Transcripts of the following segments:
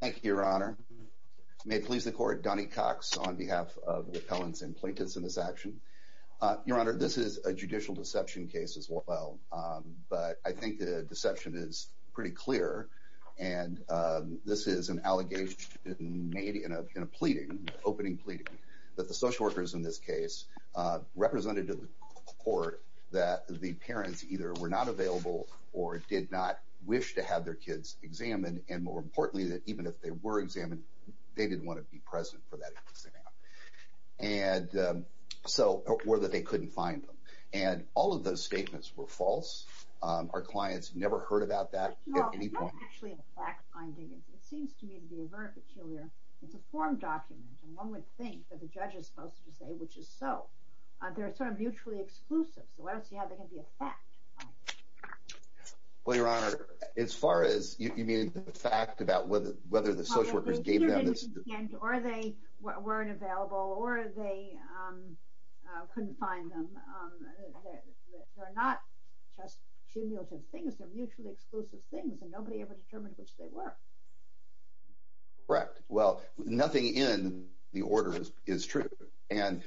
thank you your honor may please the court Donnie Cox on behalf of repellents and plaintiffs in this action your honor this is a judicial deception case as well but I think the deception is pretty clear and this is an allegation made in a pleading opening plea that the social workers in this case represented to the court that the parents either were not available or did not wish to have their kids examined and more importantly that even if they were examined they didn't want to be present for that and so or that they couldn't find them and all of those statements were false our clients never heard about that finding it seems to me to be a very peculiar it's a form document and one would think that the judge is supposed to say which is so there are sort of mutually exclusive so I don't see how they can be a fact well your honor as far as you mean the fact about whether whether the social workers gave them this or they weren't available or they couldn't find them they're not just exclusive things and nobody ever determined which they were correct well nothing in the order is true and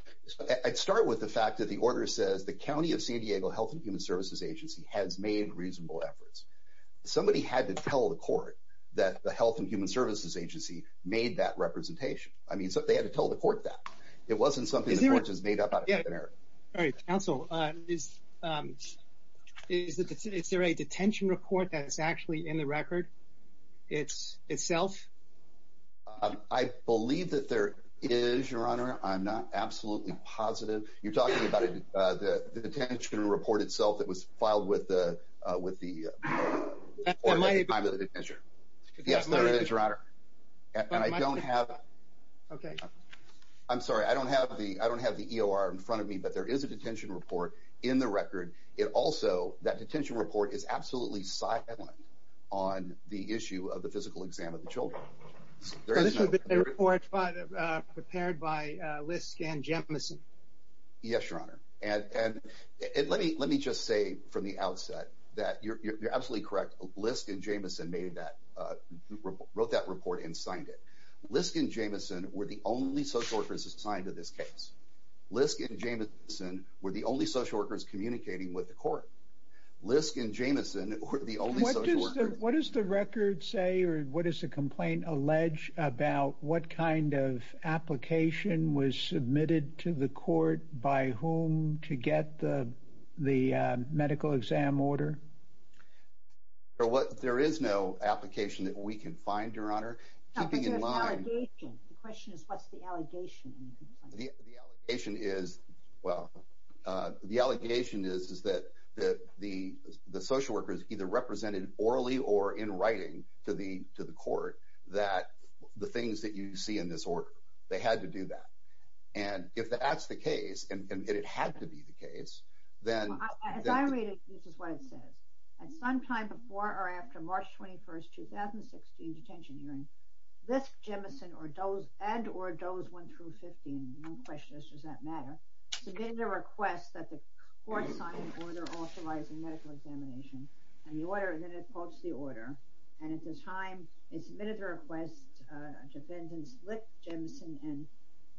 I'd start with the fact that the order says the County of San Diego Health and Human Services Agency has made reasonable efforts somebody had to tell the court that the Health and Human Services Agency made that representation I mean so they had to tell the court that it also is it's there a detention report that's actually in the record it's itself I believe that there is your honor I'm not absolutely positive you're talking about it the detention report itself that was filed with the with the measure yes there is your honor and I don't have okay I'm sorry I don't have the I don't have the EOR in front of me but there is a detention report in the record it also that detention report is absolutely silent on the issue of the physical exam of the children there is a report prepared by Lisk and Jamison yes your honor and and let me let me just say from the outset that you're absolutely correct Lisk and Jamison made that wrote that report and signed it Lisk and Jamison were the only social workers assigned to this case Lisk and Jamison were the only social workers communicating with the court Lisk and Jamison what is the record say or what is the complaint allege about what kind of application was submitted to the court by whom to get the the medical exam order or what there is no application that we can find your honor the question is what's the allegation the allegation is well the allegation is is that that the the social workers either represented orally or in writing to the to the court that the things that you see in this order they had to do that and if that's the case and it had to be the case then sometime before or Lisk Jamison or Doe's and or Doe's went through 15 questions does that matter submit a request that the court signed an order authorizing medical examination and the order then it pokes the order and at this time it submitted the request to defendants Lisk Jamison and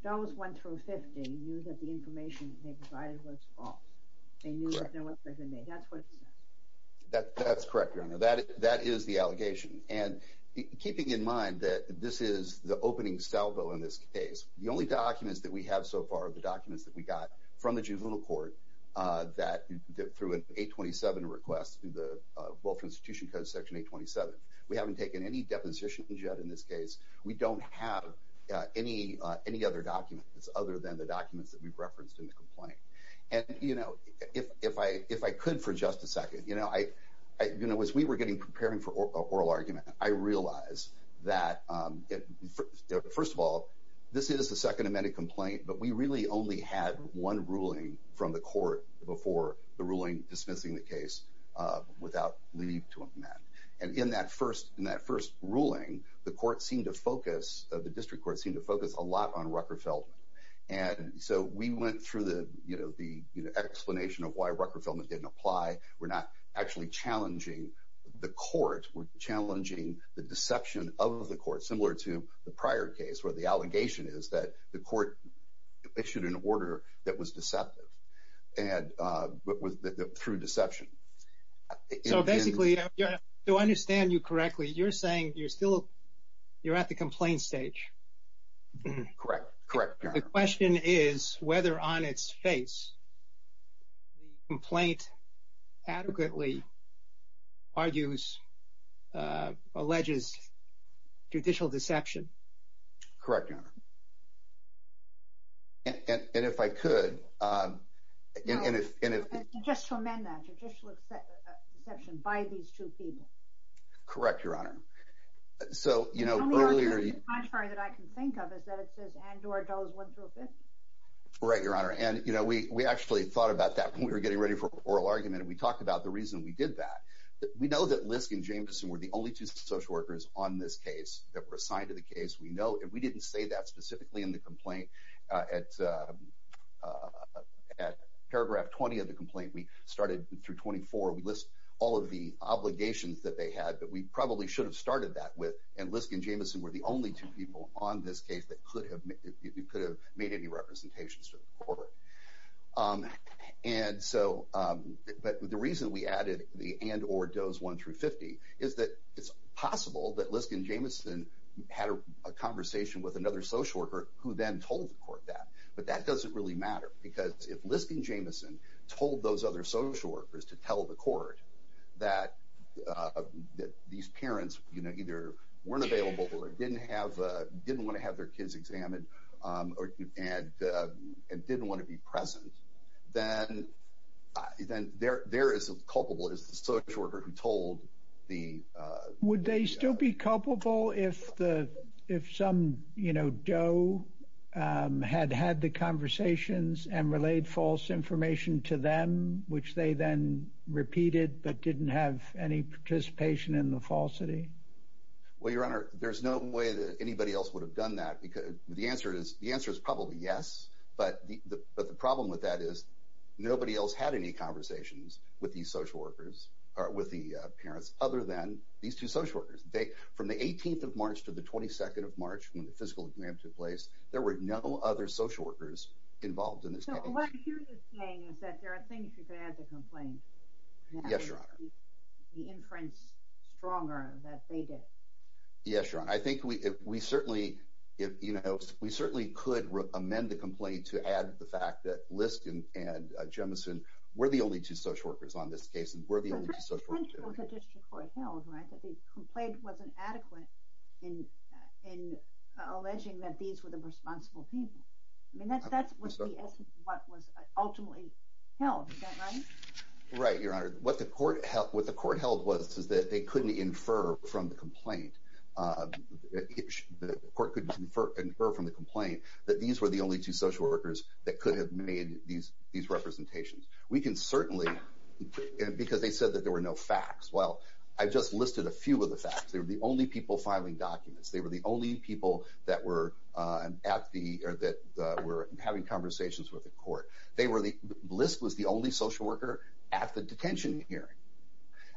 Doe's went through 50 knew that the information they provided was false they knew that they were present that's what it says that that's correct your honor that that is the allegation and keeping in mind that this is the opening salvo in this case the only documents that we have so far the documents that we got from the juvenile court that through an 827 request through the welfare institution code section 827 we haven't taken any depositions yet in this case we don't have any any other documents other than the documents that we've referenced in the complaint and you know if if I if I could for just a second you know I you know as we were getting preparing for oral argument I realized that first of all this is the second amended complaint but we really only had one ruling from the court before the ruling dismissing the case without leave to amend and in that first in that first ruling the court seemed to focus the district court seemed to focus a lot on Rucker Feldman and so we went through the you know the explanation of why challenging the deception of the court similar to the prior case where the allegation is that the court issued an order that was deceptive and through deception so basically yeah do I understand you correctly you're saying you're still you're at the complaint stage correct correct the question is whether on its face the complaint adequately argues alleges judicial deception correct and if I could correct your honor so you know earlier I'm sorry that I can think of is that it right your honor and you know we we actually thought about that we were getting ready for oral argument we talked about the reason we did that we know that Lisk and Jameson were the only two social workers on this case that were assigned to the case we know if we didn't say that specifically in the complaint at paragraph 20 of the complaint we started through 24 we list all of the obligations that they had but we probably should have started that with and Lisk and Jameson were the only two people on this case that could have made any representations to the court and so but the reason we added the and or does 1 through 50 is that it's possible that Lisk and Jameson had a conversation with another social worker who then told the court that but that doesn't really matter because if Lisk and Jameson told those other social workers to tell the court that these parents you know either weren't kids examined and didn't want to be present then then there there is a culpable is the social worker who told the would they still be culpable if the if some you know Joe had had the conversations and relayed false information to them which they then repeated but didn't have any participation in the falsity well your honor there's no way that anybody else would have done that because the answer is the answer is probably yes but the problem with that is nobody else had any conversations with these social workers or with the parents other than these two social workers they from the 18th of March to the 22nd of March when the physical exam took place there were no other social workers involved in this yes your honor the inference stronger yes your honor I think we we certainly if you know we certainly could amend the complaint to add the fact that Lisk and Jameson were the only two social workers on this case and were the only two social workers. The complaint wasn't adequate in alleging that these were the responsible people I mean that's that's what was ultimately held is that right? Right your honor what the court held what the court held was is that they couldn't infer from the complaint that these were the only two social workers that could have made these representations we can certainly because they said that there were no facts well I just listed a few of the facts they were the only people filing documents they were the only people that were at the or that were having conversations with the court they were the Lisk was the only social worker at the detention hearing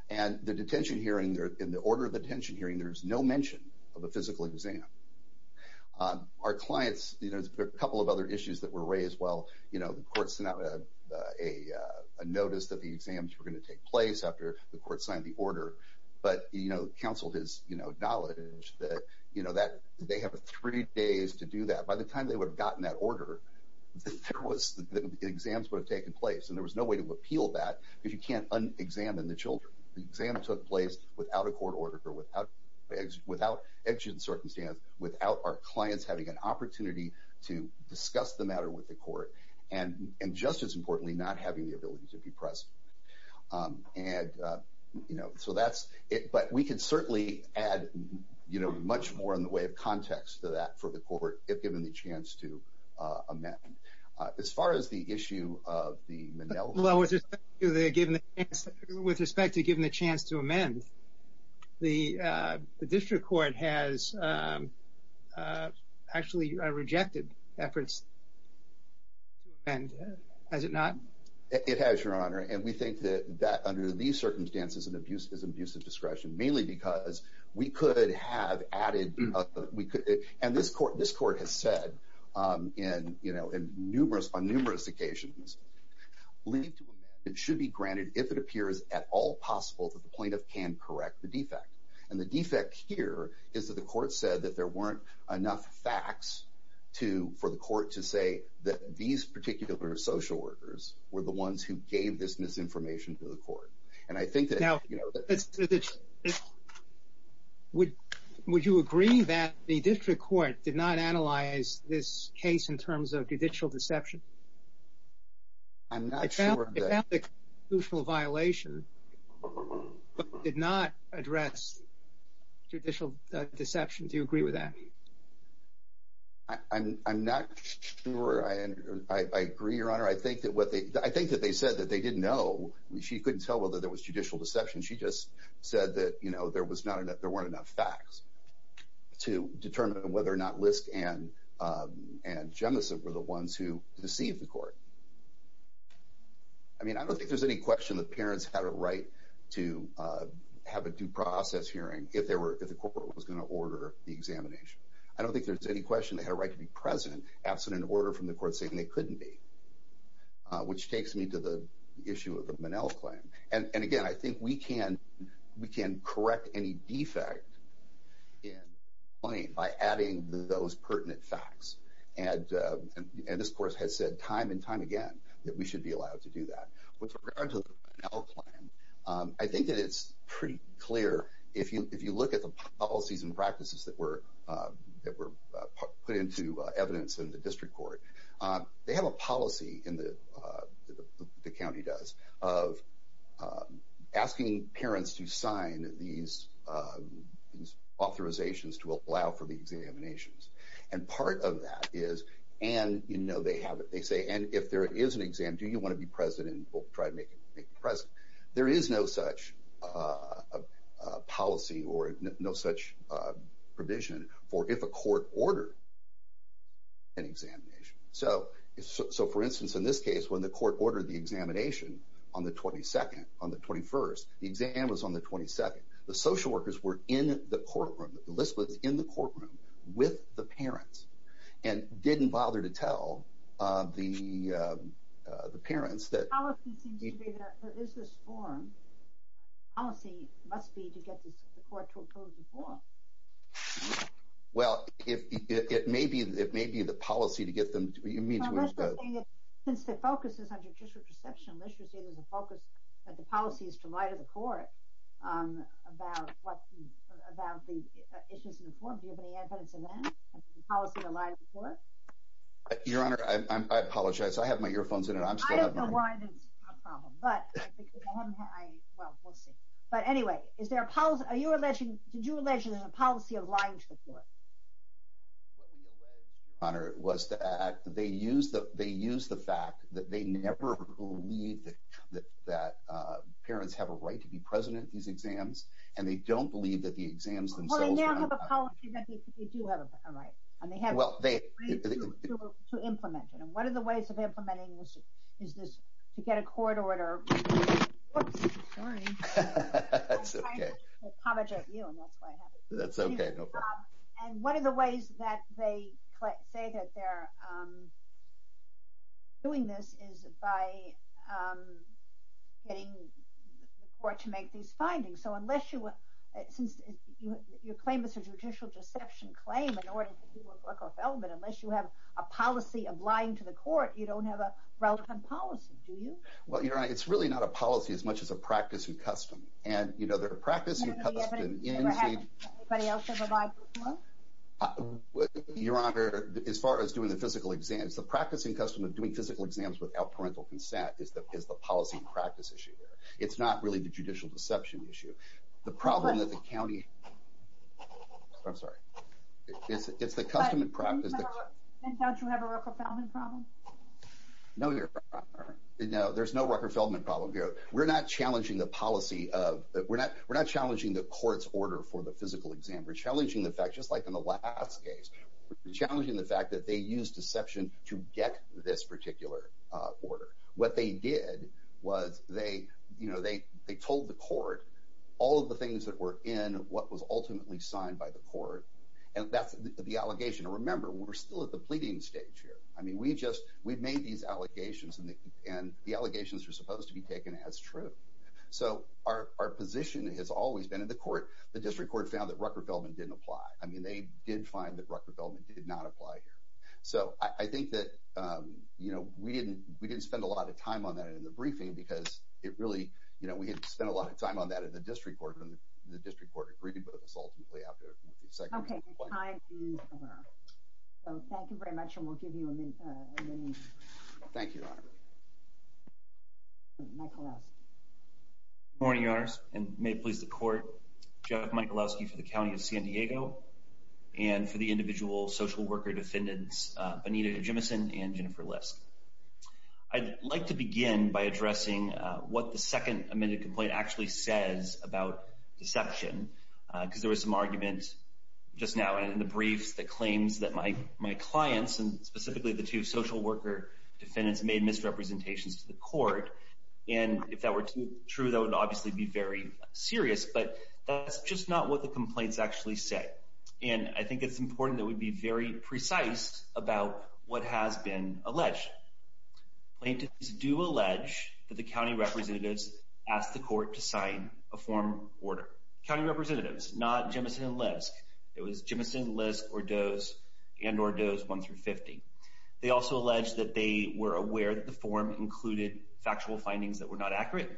and the detention hearing there in the order of the detention hearing there's no mention of a physical exam our clients you know there's a couple of other issues that were raised well you know the courts not a notice that the exams were going to take place after the court signed the order but you know counseled his you know knowledge that you know that they have a three days to do that by the time they would have gotten that order there was the exams would have taken place and there was no way to appeal that if you can't unexamined the children the exam took place without a court order for without without action circumstance without our clients having an opportunity to discuss the matter with the court and and just as importantly not having the ability to be pressed and you know so that's it but we can certainly add you know much more in the way of context to that for the court if given the chance to amend as far as the chance to amend the district court has actually rejected efforts and as it not it has your honor and we think that that under these circumstances and abuse is abusive discretion mainly because we could have added we could and this court this court has said and you know in numerous on numerous occasions leave to the point of can correct the defect and the defect here is that the court said that there weren't enough facts to for the court to say that these particular social workers were the ones who gave this misinformation to the court and I think that would you agree that the district court did not analyze this case in terms of judicial deception I'm not sure that the violation did not address judicial deception do you agree with that I'm not sure I agree your honor I think that what they I think that they said that they didn't know she couldn't tell whether there was judicial deception she just said that you know there was not enough there weren't enough facts to determine whether or not and and Jemison were the ones who deceived the court I mean I don't think there's any question the parents had a right to have a due process hearing if there were if the court was going to order the examination I don't think there's any question they had a right to be present absent an order from the court saying they couldn't be which takes me to the issue of the Manel claim and and again I think we can we can correct any defect in plain by adding those pertinent facts and this course has said time and time again that we should be allowed to do that I think that it's pretty clear if you if you look at the policies and practices that were that were put into evidence in the district court they have a policy in the county does of asking parents to sign these authorizations to allow for the examinations and part of that is and you know they have it they say and if there is an exam do you want to be president will try to make it press there is no such policy or no such provision for if a court order an examination so so for instance in this case when the court ordered the examination on the 22nd on the 21st the exam was on the 22nd the social workers were in the courtroom the list was in the courtroom with the parents and didn't bother to tell the the parents that well it may be it may have been since the focus is on judicial perception unless you see there's a focus that the policy is to light of the court about what about the issues in the form do you have any evidence of that policy alive before your honor I apologize I have my earphones in it I'm sorry but anyway is there a pause are you a legend did you imagine there's a policy of lying to the court honor it they use that they use the fact that they never believe that that parents have a right to be president these exams and they don't believe that the exams and what are the ways of implementing is this to get a court order and one of the ways that they say that they're doing this is by getting the court to claim unless you have a policy of lying to the court you don't have a policy do you well you're right it's really not a policy as much as a practice and custom and you know their practice your honor as far as doing the physical exams the practicing custom of doing physical exams without parental consent is that is the policy practice issue it's not really the judicial deception issue the problem that the county I'm sorry it's it's the custom in practice no you know there's no Rucker Feldman problem here we're not challenging the policy of we're not we're not challenging the court's order for the physical exam we're challenging the fact just like in the last case challenging the fact that they use deception to get this particular order what they did was they you know they they told the court all of the things that were in what was ultimately signed by the court and that's the allegation to remember we're still at the pleading stage here I mean we just we've made these allegations and the and the allegations were supposed to be taken as true so our position has always been in the court the district court found that Rucker Feldman didn't apply I mean they did find that Rucker Feldman did not apply here so I think that you know we didn't we didn't spend a lot of time on that in the briefing because it really you know we didn't spend a lot of time on that in the district court and the district court agreed with us ultimately after the second okay so thank you very much and we'll give you a minute thank you morning yours and may it please the court Jeff Michalowski for the county of San Diego and for the individual social worker defendants Anita Jimison and what the second minute complaint actually says about deception because there was some arguments just now and in the briefs that claims that my my clients and specifically the two social worker defendants made misrepresentations to the court and if that were true that would obviously be very serious but that's just not what the complaints actually say and I think it's important that would be very precise about what has been alleged plaintiffs do allege that the county representatives asked the court to sign a form order representatives not Jimison-Lisk it was Jimison-Lisk or Doe's and or Doe's one through fifty they also allege that they were aware that the form included factual findings that were not accurate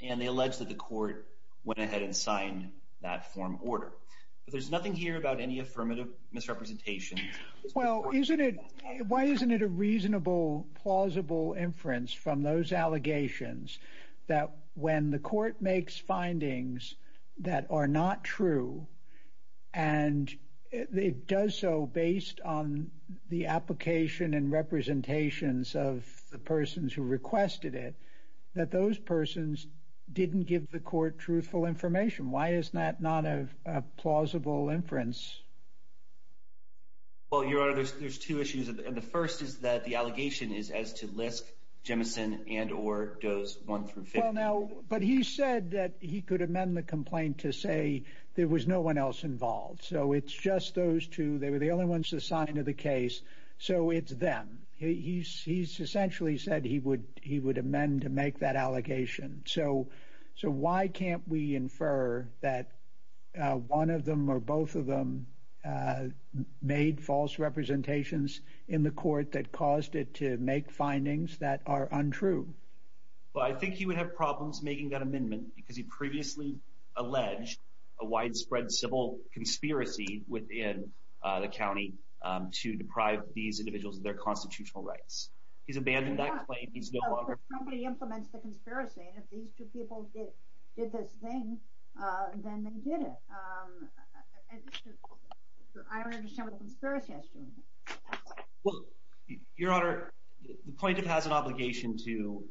and they allege that the court went ahead and signed that form order but there's nothing here about any affirmative misrepresentation well isn't it why isn't it a reasonable plausible inference from those allegations that when the court makes findings that are not true and it does so based on the application and representations of the persons who requested it that those persons didn't give the court truthful information why is that not a plausible inference well your honor there's two issues and the first is that the allegation is as to Lisk, Jimison and or Doe's one through fifty now but he said that he could amend the complaint to say there was no one else involved so it's just those two they were the only ones assigned to the case so it's them he's essentially said he would he would amend to make that allegation so so why can't we infer that one of them or both of made false representations in the court that caused it to make findings that are untrue well I think he would have problems making that amendment because he previously alleged a widespread civil conspiracy within the county to deprive these individuals of their constitutional rights he's abandoned that he implements the conspiracy if these two people did this thing then they did it well your honor the plaintiff has an obligation to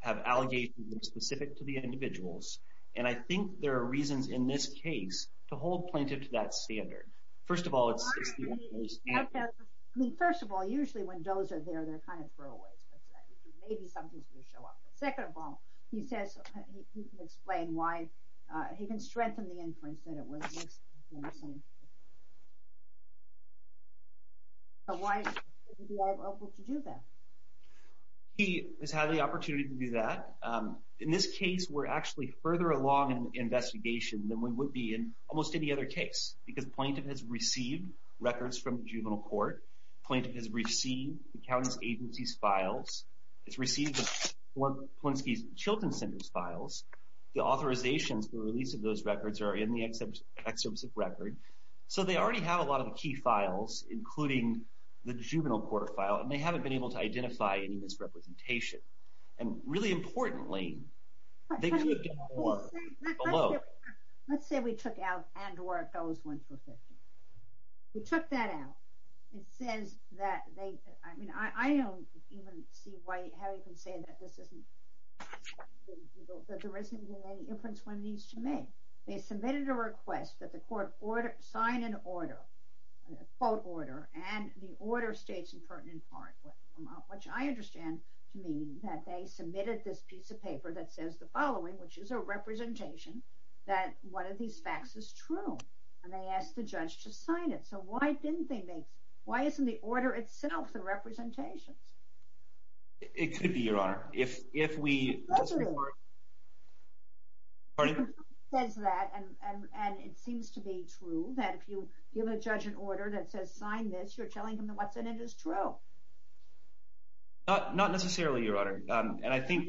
have allegations specific to the individuals and I think there are reasons in this case to hold plaintiff to that standard first of all it's first of all usually when those are there they're kind of throwaways maybe something's gonna show up second of all he says he can explain why he can strengthen the inference that it was why he is had the opportunity to do that in this case we're actually further along in the investigation than we would be in almost any other case because plaintiff has received records from juvenile court plaintiff has received county's agency's files it's received once these children's centers files the authorizations the release of those records are in the excerpts of record so they already have a lot of key files including the juvenile court file and they haven't been able to identify any misrepresentation and really importantly let's say we took out and where it goes went for 50 we took that out it says that they I mean I don't even see why how you can say that this isn't there isn't any inference one needs to make they submitted a request that the court order sign an order a quote order and the order states in pertinent part which I understand to me that they submitted this piece of paper that says the following which is a representation that one of these facts is true and they asked the judge to sign it so why didn't they make why isn't the order itself the representations it could be your honor if if we says that and and it seems to be true that if you give a judge an order that says sign this you're telling them that what's in it is true not not necessarily your honor and I think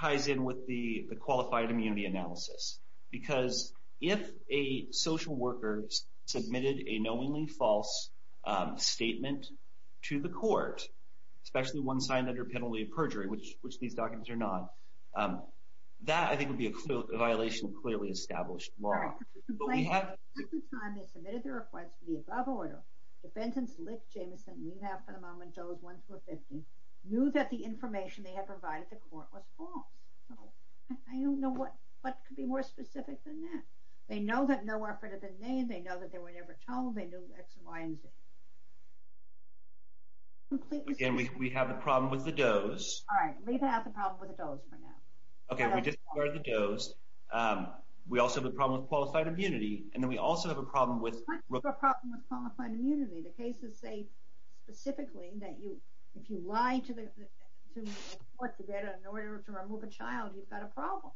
ties in with the the qualified immunity analysis because if a social workers submitted a knowingly false statement to the court especially one signed under penalty of perjury which which these documents are not that I think would be a violation clearly established the above order defendants lick Jameson we have for the moment those ones were 50 knew that the information they had provided the court was false I don't know what what could be more specific than that they know that no effort have been named they know that they were never told they do X Y and Z again we have a problem with the does all right we also have a problem with qualified immunity and then we also have a problem with the cases say specifically that you if you lie to the what's the data in order to remove a child you've got a problem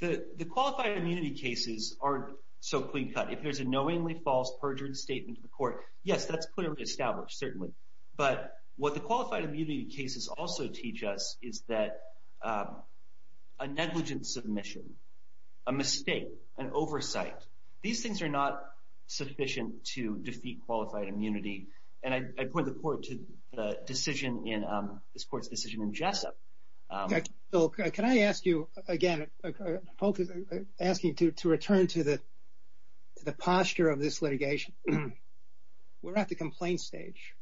the the qualified immunity cases aren't so clean-cut if there's a knowingly false perjured statement to the court yes that's clearly established certainly but what the qualified immunity cases also teach us is that a negligent submission a mistake an oversight these things are not sufficient to defeat qualified immunity and I put the court to the decision in this court's decision in Jessup okay can I ask you again focus asking to return to the the posture of this litigation we're at the stage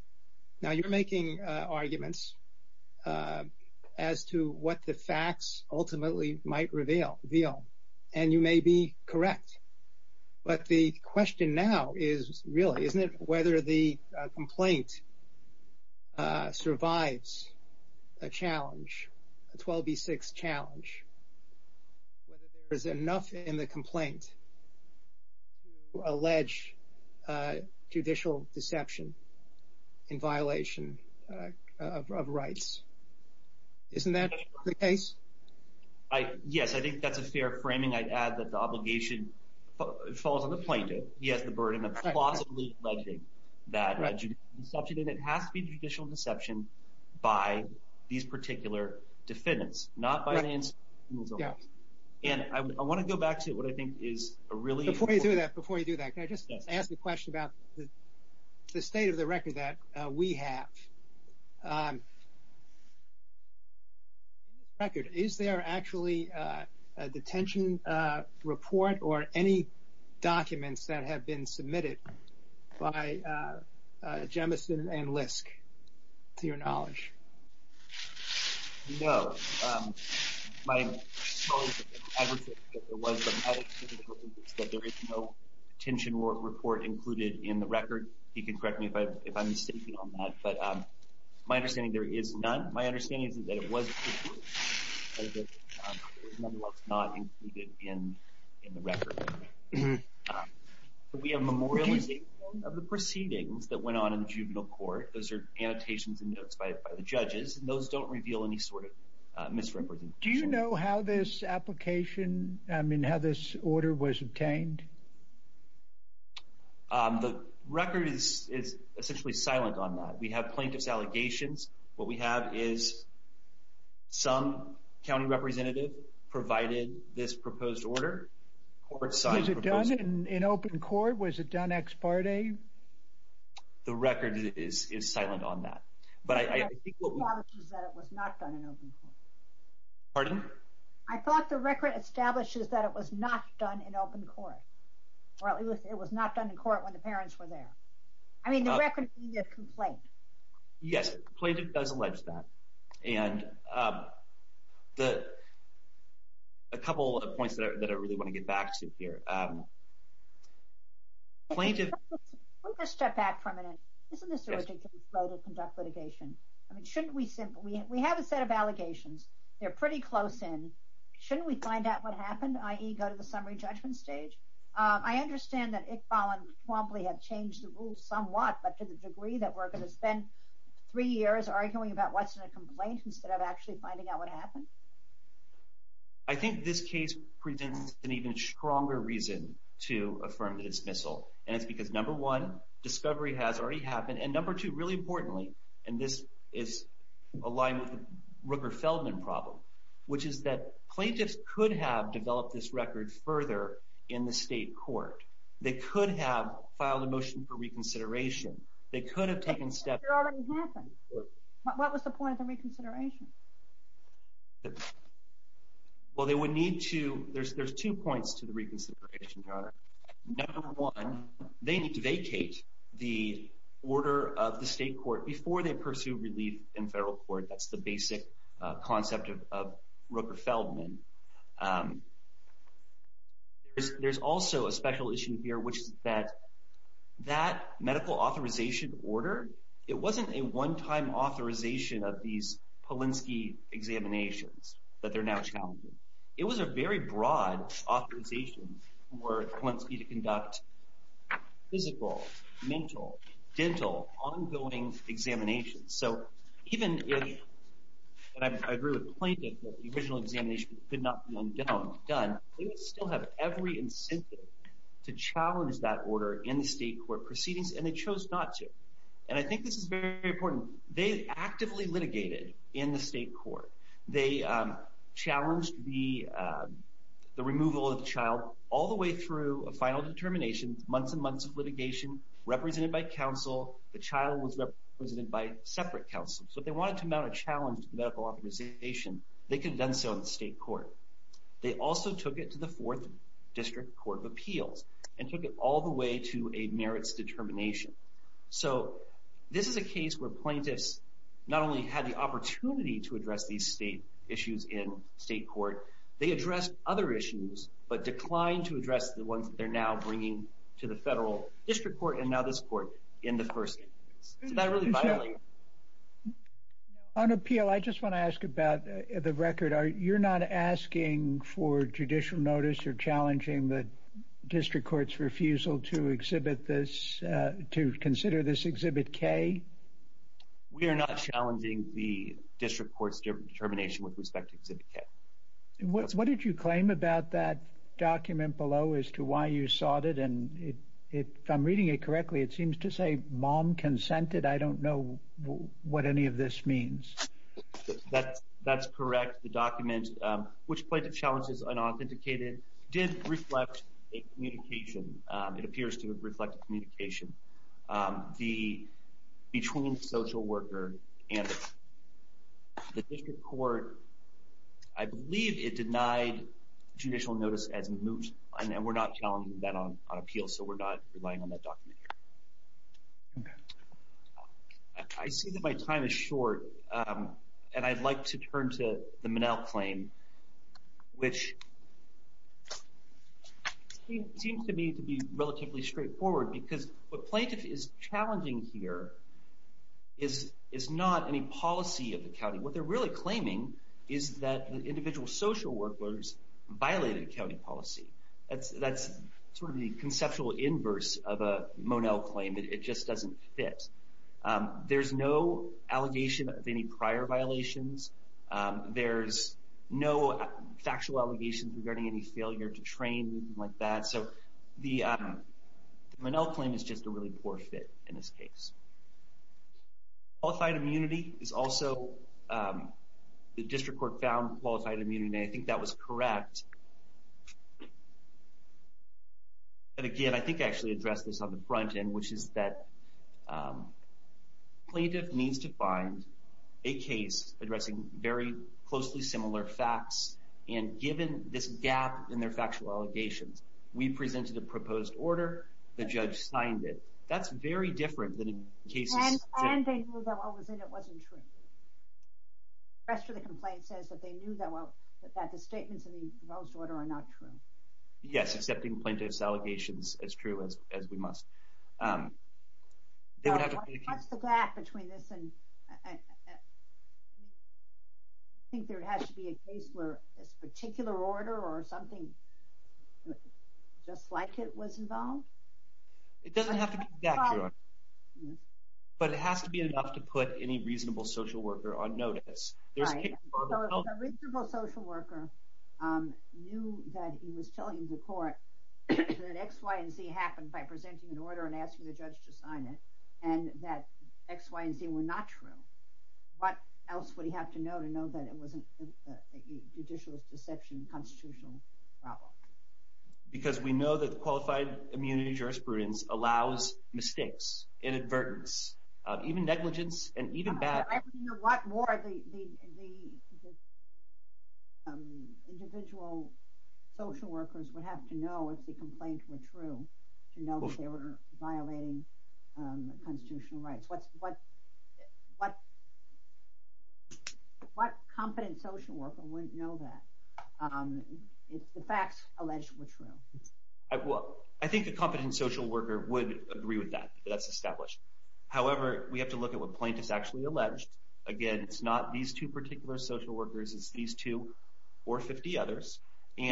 now you're making arguments as to what the facts ultimately might reveal veal and you may be correct but the question now is really isn't it whether the complaint survives a challenge 12b6 challenge there's enough in the in violation of rights isn't that the case I yes I think that's a fair framing I'd add that the obligation falls on the plaintiff he has the burden of possibly likely that it has to be judicial deception by these particular defendants not by the end yeah and I want to go back to what I think is a really before you do that before you do that I just ask the question about the state of the record that we have record is there actually a detention report or any documents that have been submitted by Jemison and Lisk to your knowledge detention report included in the record you can correct me if I'm mistaken on that but my understanding there is none my understanding is that it was in the record we have memorialization of the proceedings that went on in the juvenile court those are annotations and notes by the judges and those don't reveal any sort of misrepresentation do you know how this application I mean how this the record is is essentially silent on that we have plaintiffs allegations what we have is some county representative provided this proposed order court size is it done in an open court was it done ex parte the record is is silent on that but I pardon I thought the record establishes that it was not done in open court well it was not done in court when the parents were there I mean the record you get complaint yes plaintiff does allege that and the a couple of points that I really want to get back to here plaintiff step back for a minute isn't this a way to conduct litigation I mean shouldn't we simply we have a set of allegations they're pretty close in shouldn't we find out what happened ie go to the summary judgment stage I understand that Iqbal and promptly have changed the rules somewhat but to the degree that we're going to spend three years arguing about what's in a complaint instead of actually finding out what happened I think this case presents an even stronger reason to affirm the dismissal and it's because number one discovery has already happened and number two really importantly and this is a line with Rooker Feldman problem which is that plaintiffs could have developed this record further in the state court they could have filed a motion for reconsideration they could have taken step what was the point of the reconsideration well they would need to there's there's two points to the reconsideration number one they need to vacate the order of the state court before they pursue relief in federal court that's the basic concept of Rooker Feldman there's also a special issue here which is that that medical authorization order it wasn't a one-time authorization of these Polinsky examinations that they're now challenging it was a very broad authorization were once you to conduct physical mental dental ongoing examinations so even I agree with plaintiff the original examination could not be undone done we still have every incentive to challenge that order in the state court proceedings and they chose not to and I think this is very important they actively litigated in the state court they challenged the the removal of child all the way through a determination months and months of litigation represented by counsel the child was represented by separate counsel so they wanted to mount a challenge medical authorization they could have done so in the state court they also took it to the Fourth District Court of Appeals and took it all the way to a merits determination so this is a case where plaintiffs not only had the opportunity to address these state issues in state court they addressed other issues but declined to address the ones that they're now bringing to the federal district court and now this court in the first on appeal I just want to ask about the record are you're not asking for judicial notice you're challenging the district courts refusal to exhibit this to consider this exhibit K we are not challenging the district courts determination with respect to about that document below as to why you sought it and it if I'm reading it correctly it seems to say mom consented I don't know what any of this means that that's correct the document which played the challenges unauthenticated did reflect a communication it appears to reflect communication the between social worker and the district court I believe it denied judicial notice as moot and we're not telling that on on appeal so we're not relying on that document I see that my time is short and I'd like to turn to the manel claim which seems to me to be relatively straightforward because what plaintiff is challenging here is is not any policy of the county what they're really claiming is that the individual social workers violated a county policy that's that's sort of the conceptual inverse of a monel claim that it just doesn't fit there's no allegation of any prior violations there's no factual allegations regarding any failure to train like that so the manel claim is just a really poor fit in this case qualified immunity is also the district court found qualified immunity I think that was correct and again I think actually address this on the front end which is that plaintiff needs to find a case addressing very closely similar facts and given this gap in their that's very different than yes accepting plaintiff's allegations as true as we it doesn't have to be accurate but it has to be enough to put any reasonable social worker on notice there's a reasonable social worker knew that he was telling the court that X Y & Z happened by presenting an order and asking the judge to sign it and that X Y & Z were not true what else would he have to know to know that it wasn't judicial deception constitutional because we know that the qualified immunity jurisprudence allows mistakes inadvertence even negligence and even back what more the individual social workers would have to know if the complaint were true you know they were violating constitutional rights what's what what what competent social worker wouldn't know that it's the facts alleged were true well I think a competent social worker would agree with that that's established however we have to look at what plaintiff's actually alleged again it's not these two particular social workers it's these two or 50 others if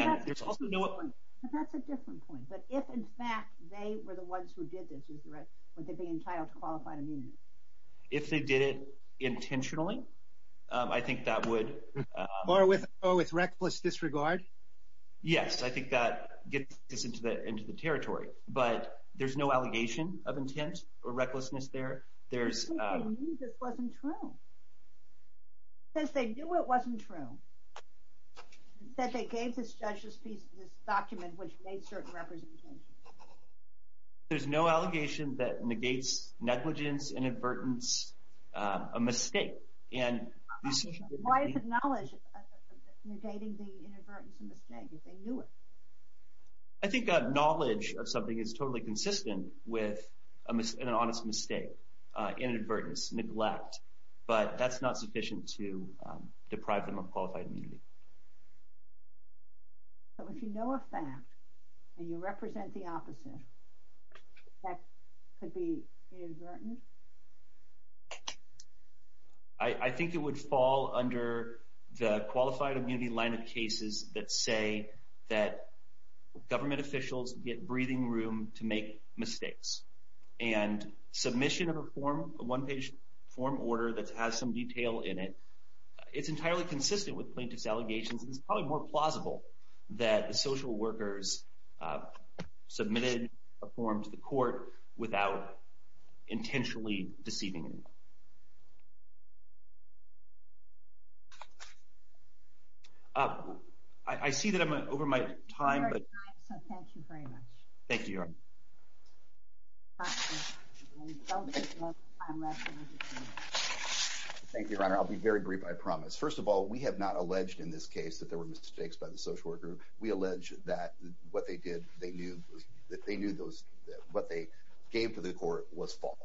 they did it with reckless disregard yes I think that gets into the into the territory but there's no allegation of intent or recklessness there there's there's no allegation that negates negligence inadvertence a mistake and I think knowledge of something is totally consistent with an honest mistake inadvertence neglect but that's not sufficient to deprive them of qualified immunity so if you know a fact and you represent the opposite I think it would fall under the qualified immunity line of cases that say that government officials get breathing room to make mistakes and submission of a form a one-page form order that has some detail in it it's entirely consistent with plaintiff's allegations it's probably more plausible that the social workers submitted a form to the court without intentionally deceiving I see that I'm in this case that there were mistakes by the social worker we allege that what they did they knew that they knew those what they gave to the court was false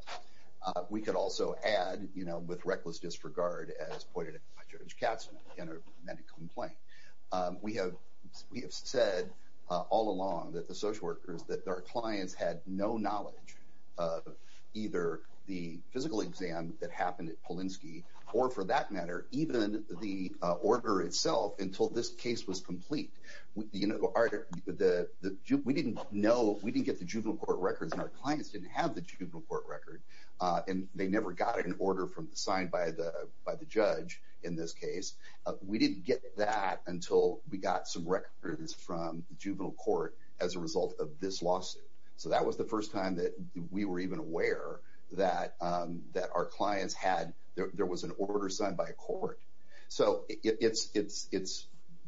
we could also add you know with reckless disregard as pointed out by judge Katzman in a medical complaint we have we have said all along that the social workers that their clients had no knowledge of either the physical exam that happened at Polinsky or for that matter even the order itself until this case was complete with the you know the we didn't know we didn't get the juvenile court records and our clients didn't have the juvenile court record and they never got an order from the signed by the by the judge in this case we didn't get that until we got some records from the juvenile court as a result of this lawsuit so that was the first time that we were even aware that that our clients had there was an order signed by a court so it's it's it's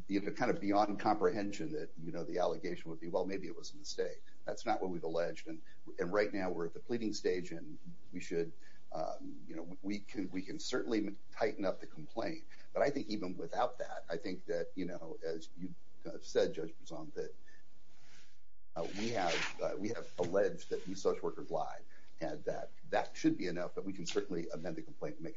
either kind of beyond comprehension that you know the allegation would be well maybe it was a mistake that's not what we've alleged and and right now we're at the pleading stage and we should you know we can we can certainly tighten up the complaint but I think even without that I think that you know as you said presumptive we have we have alleged that these social workers lied and that that should be enough that we can certainly amend the complaint make it tighter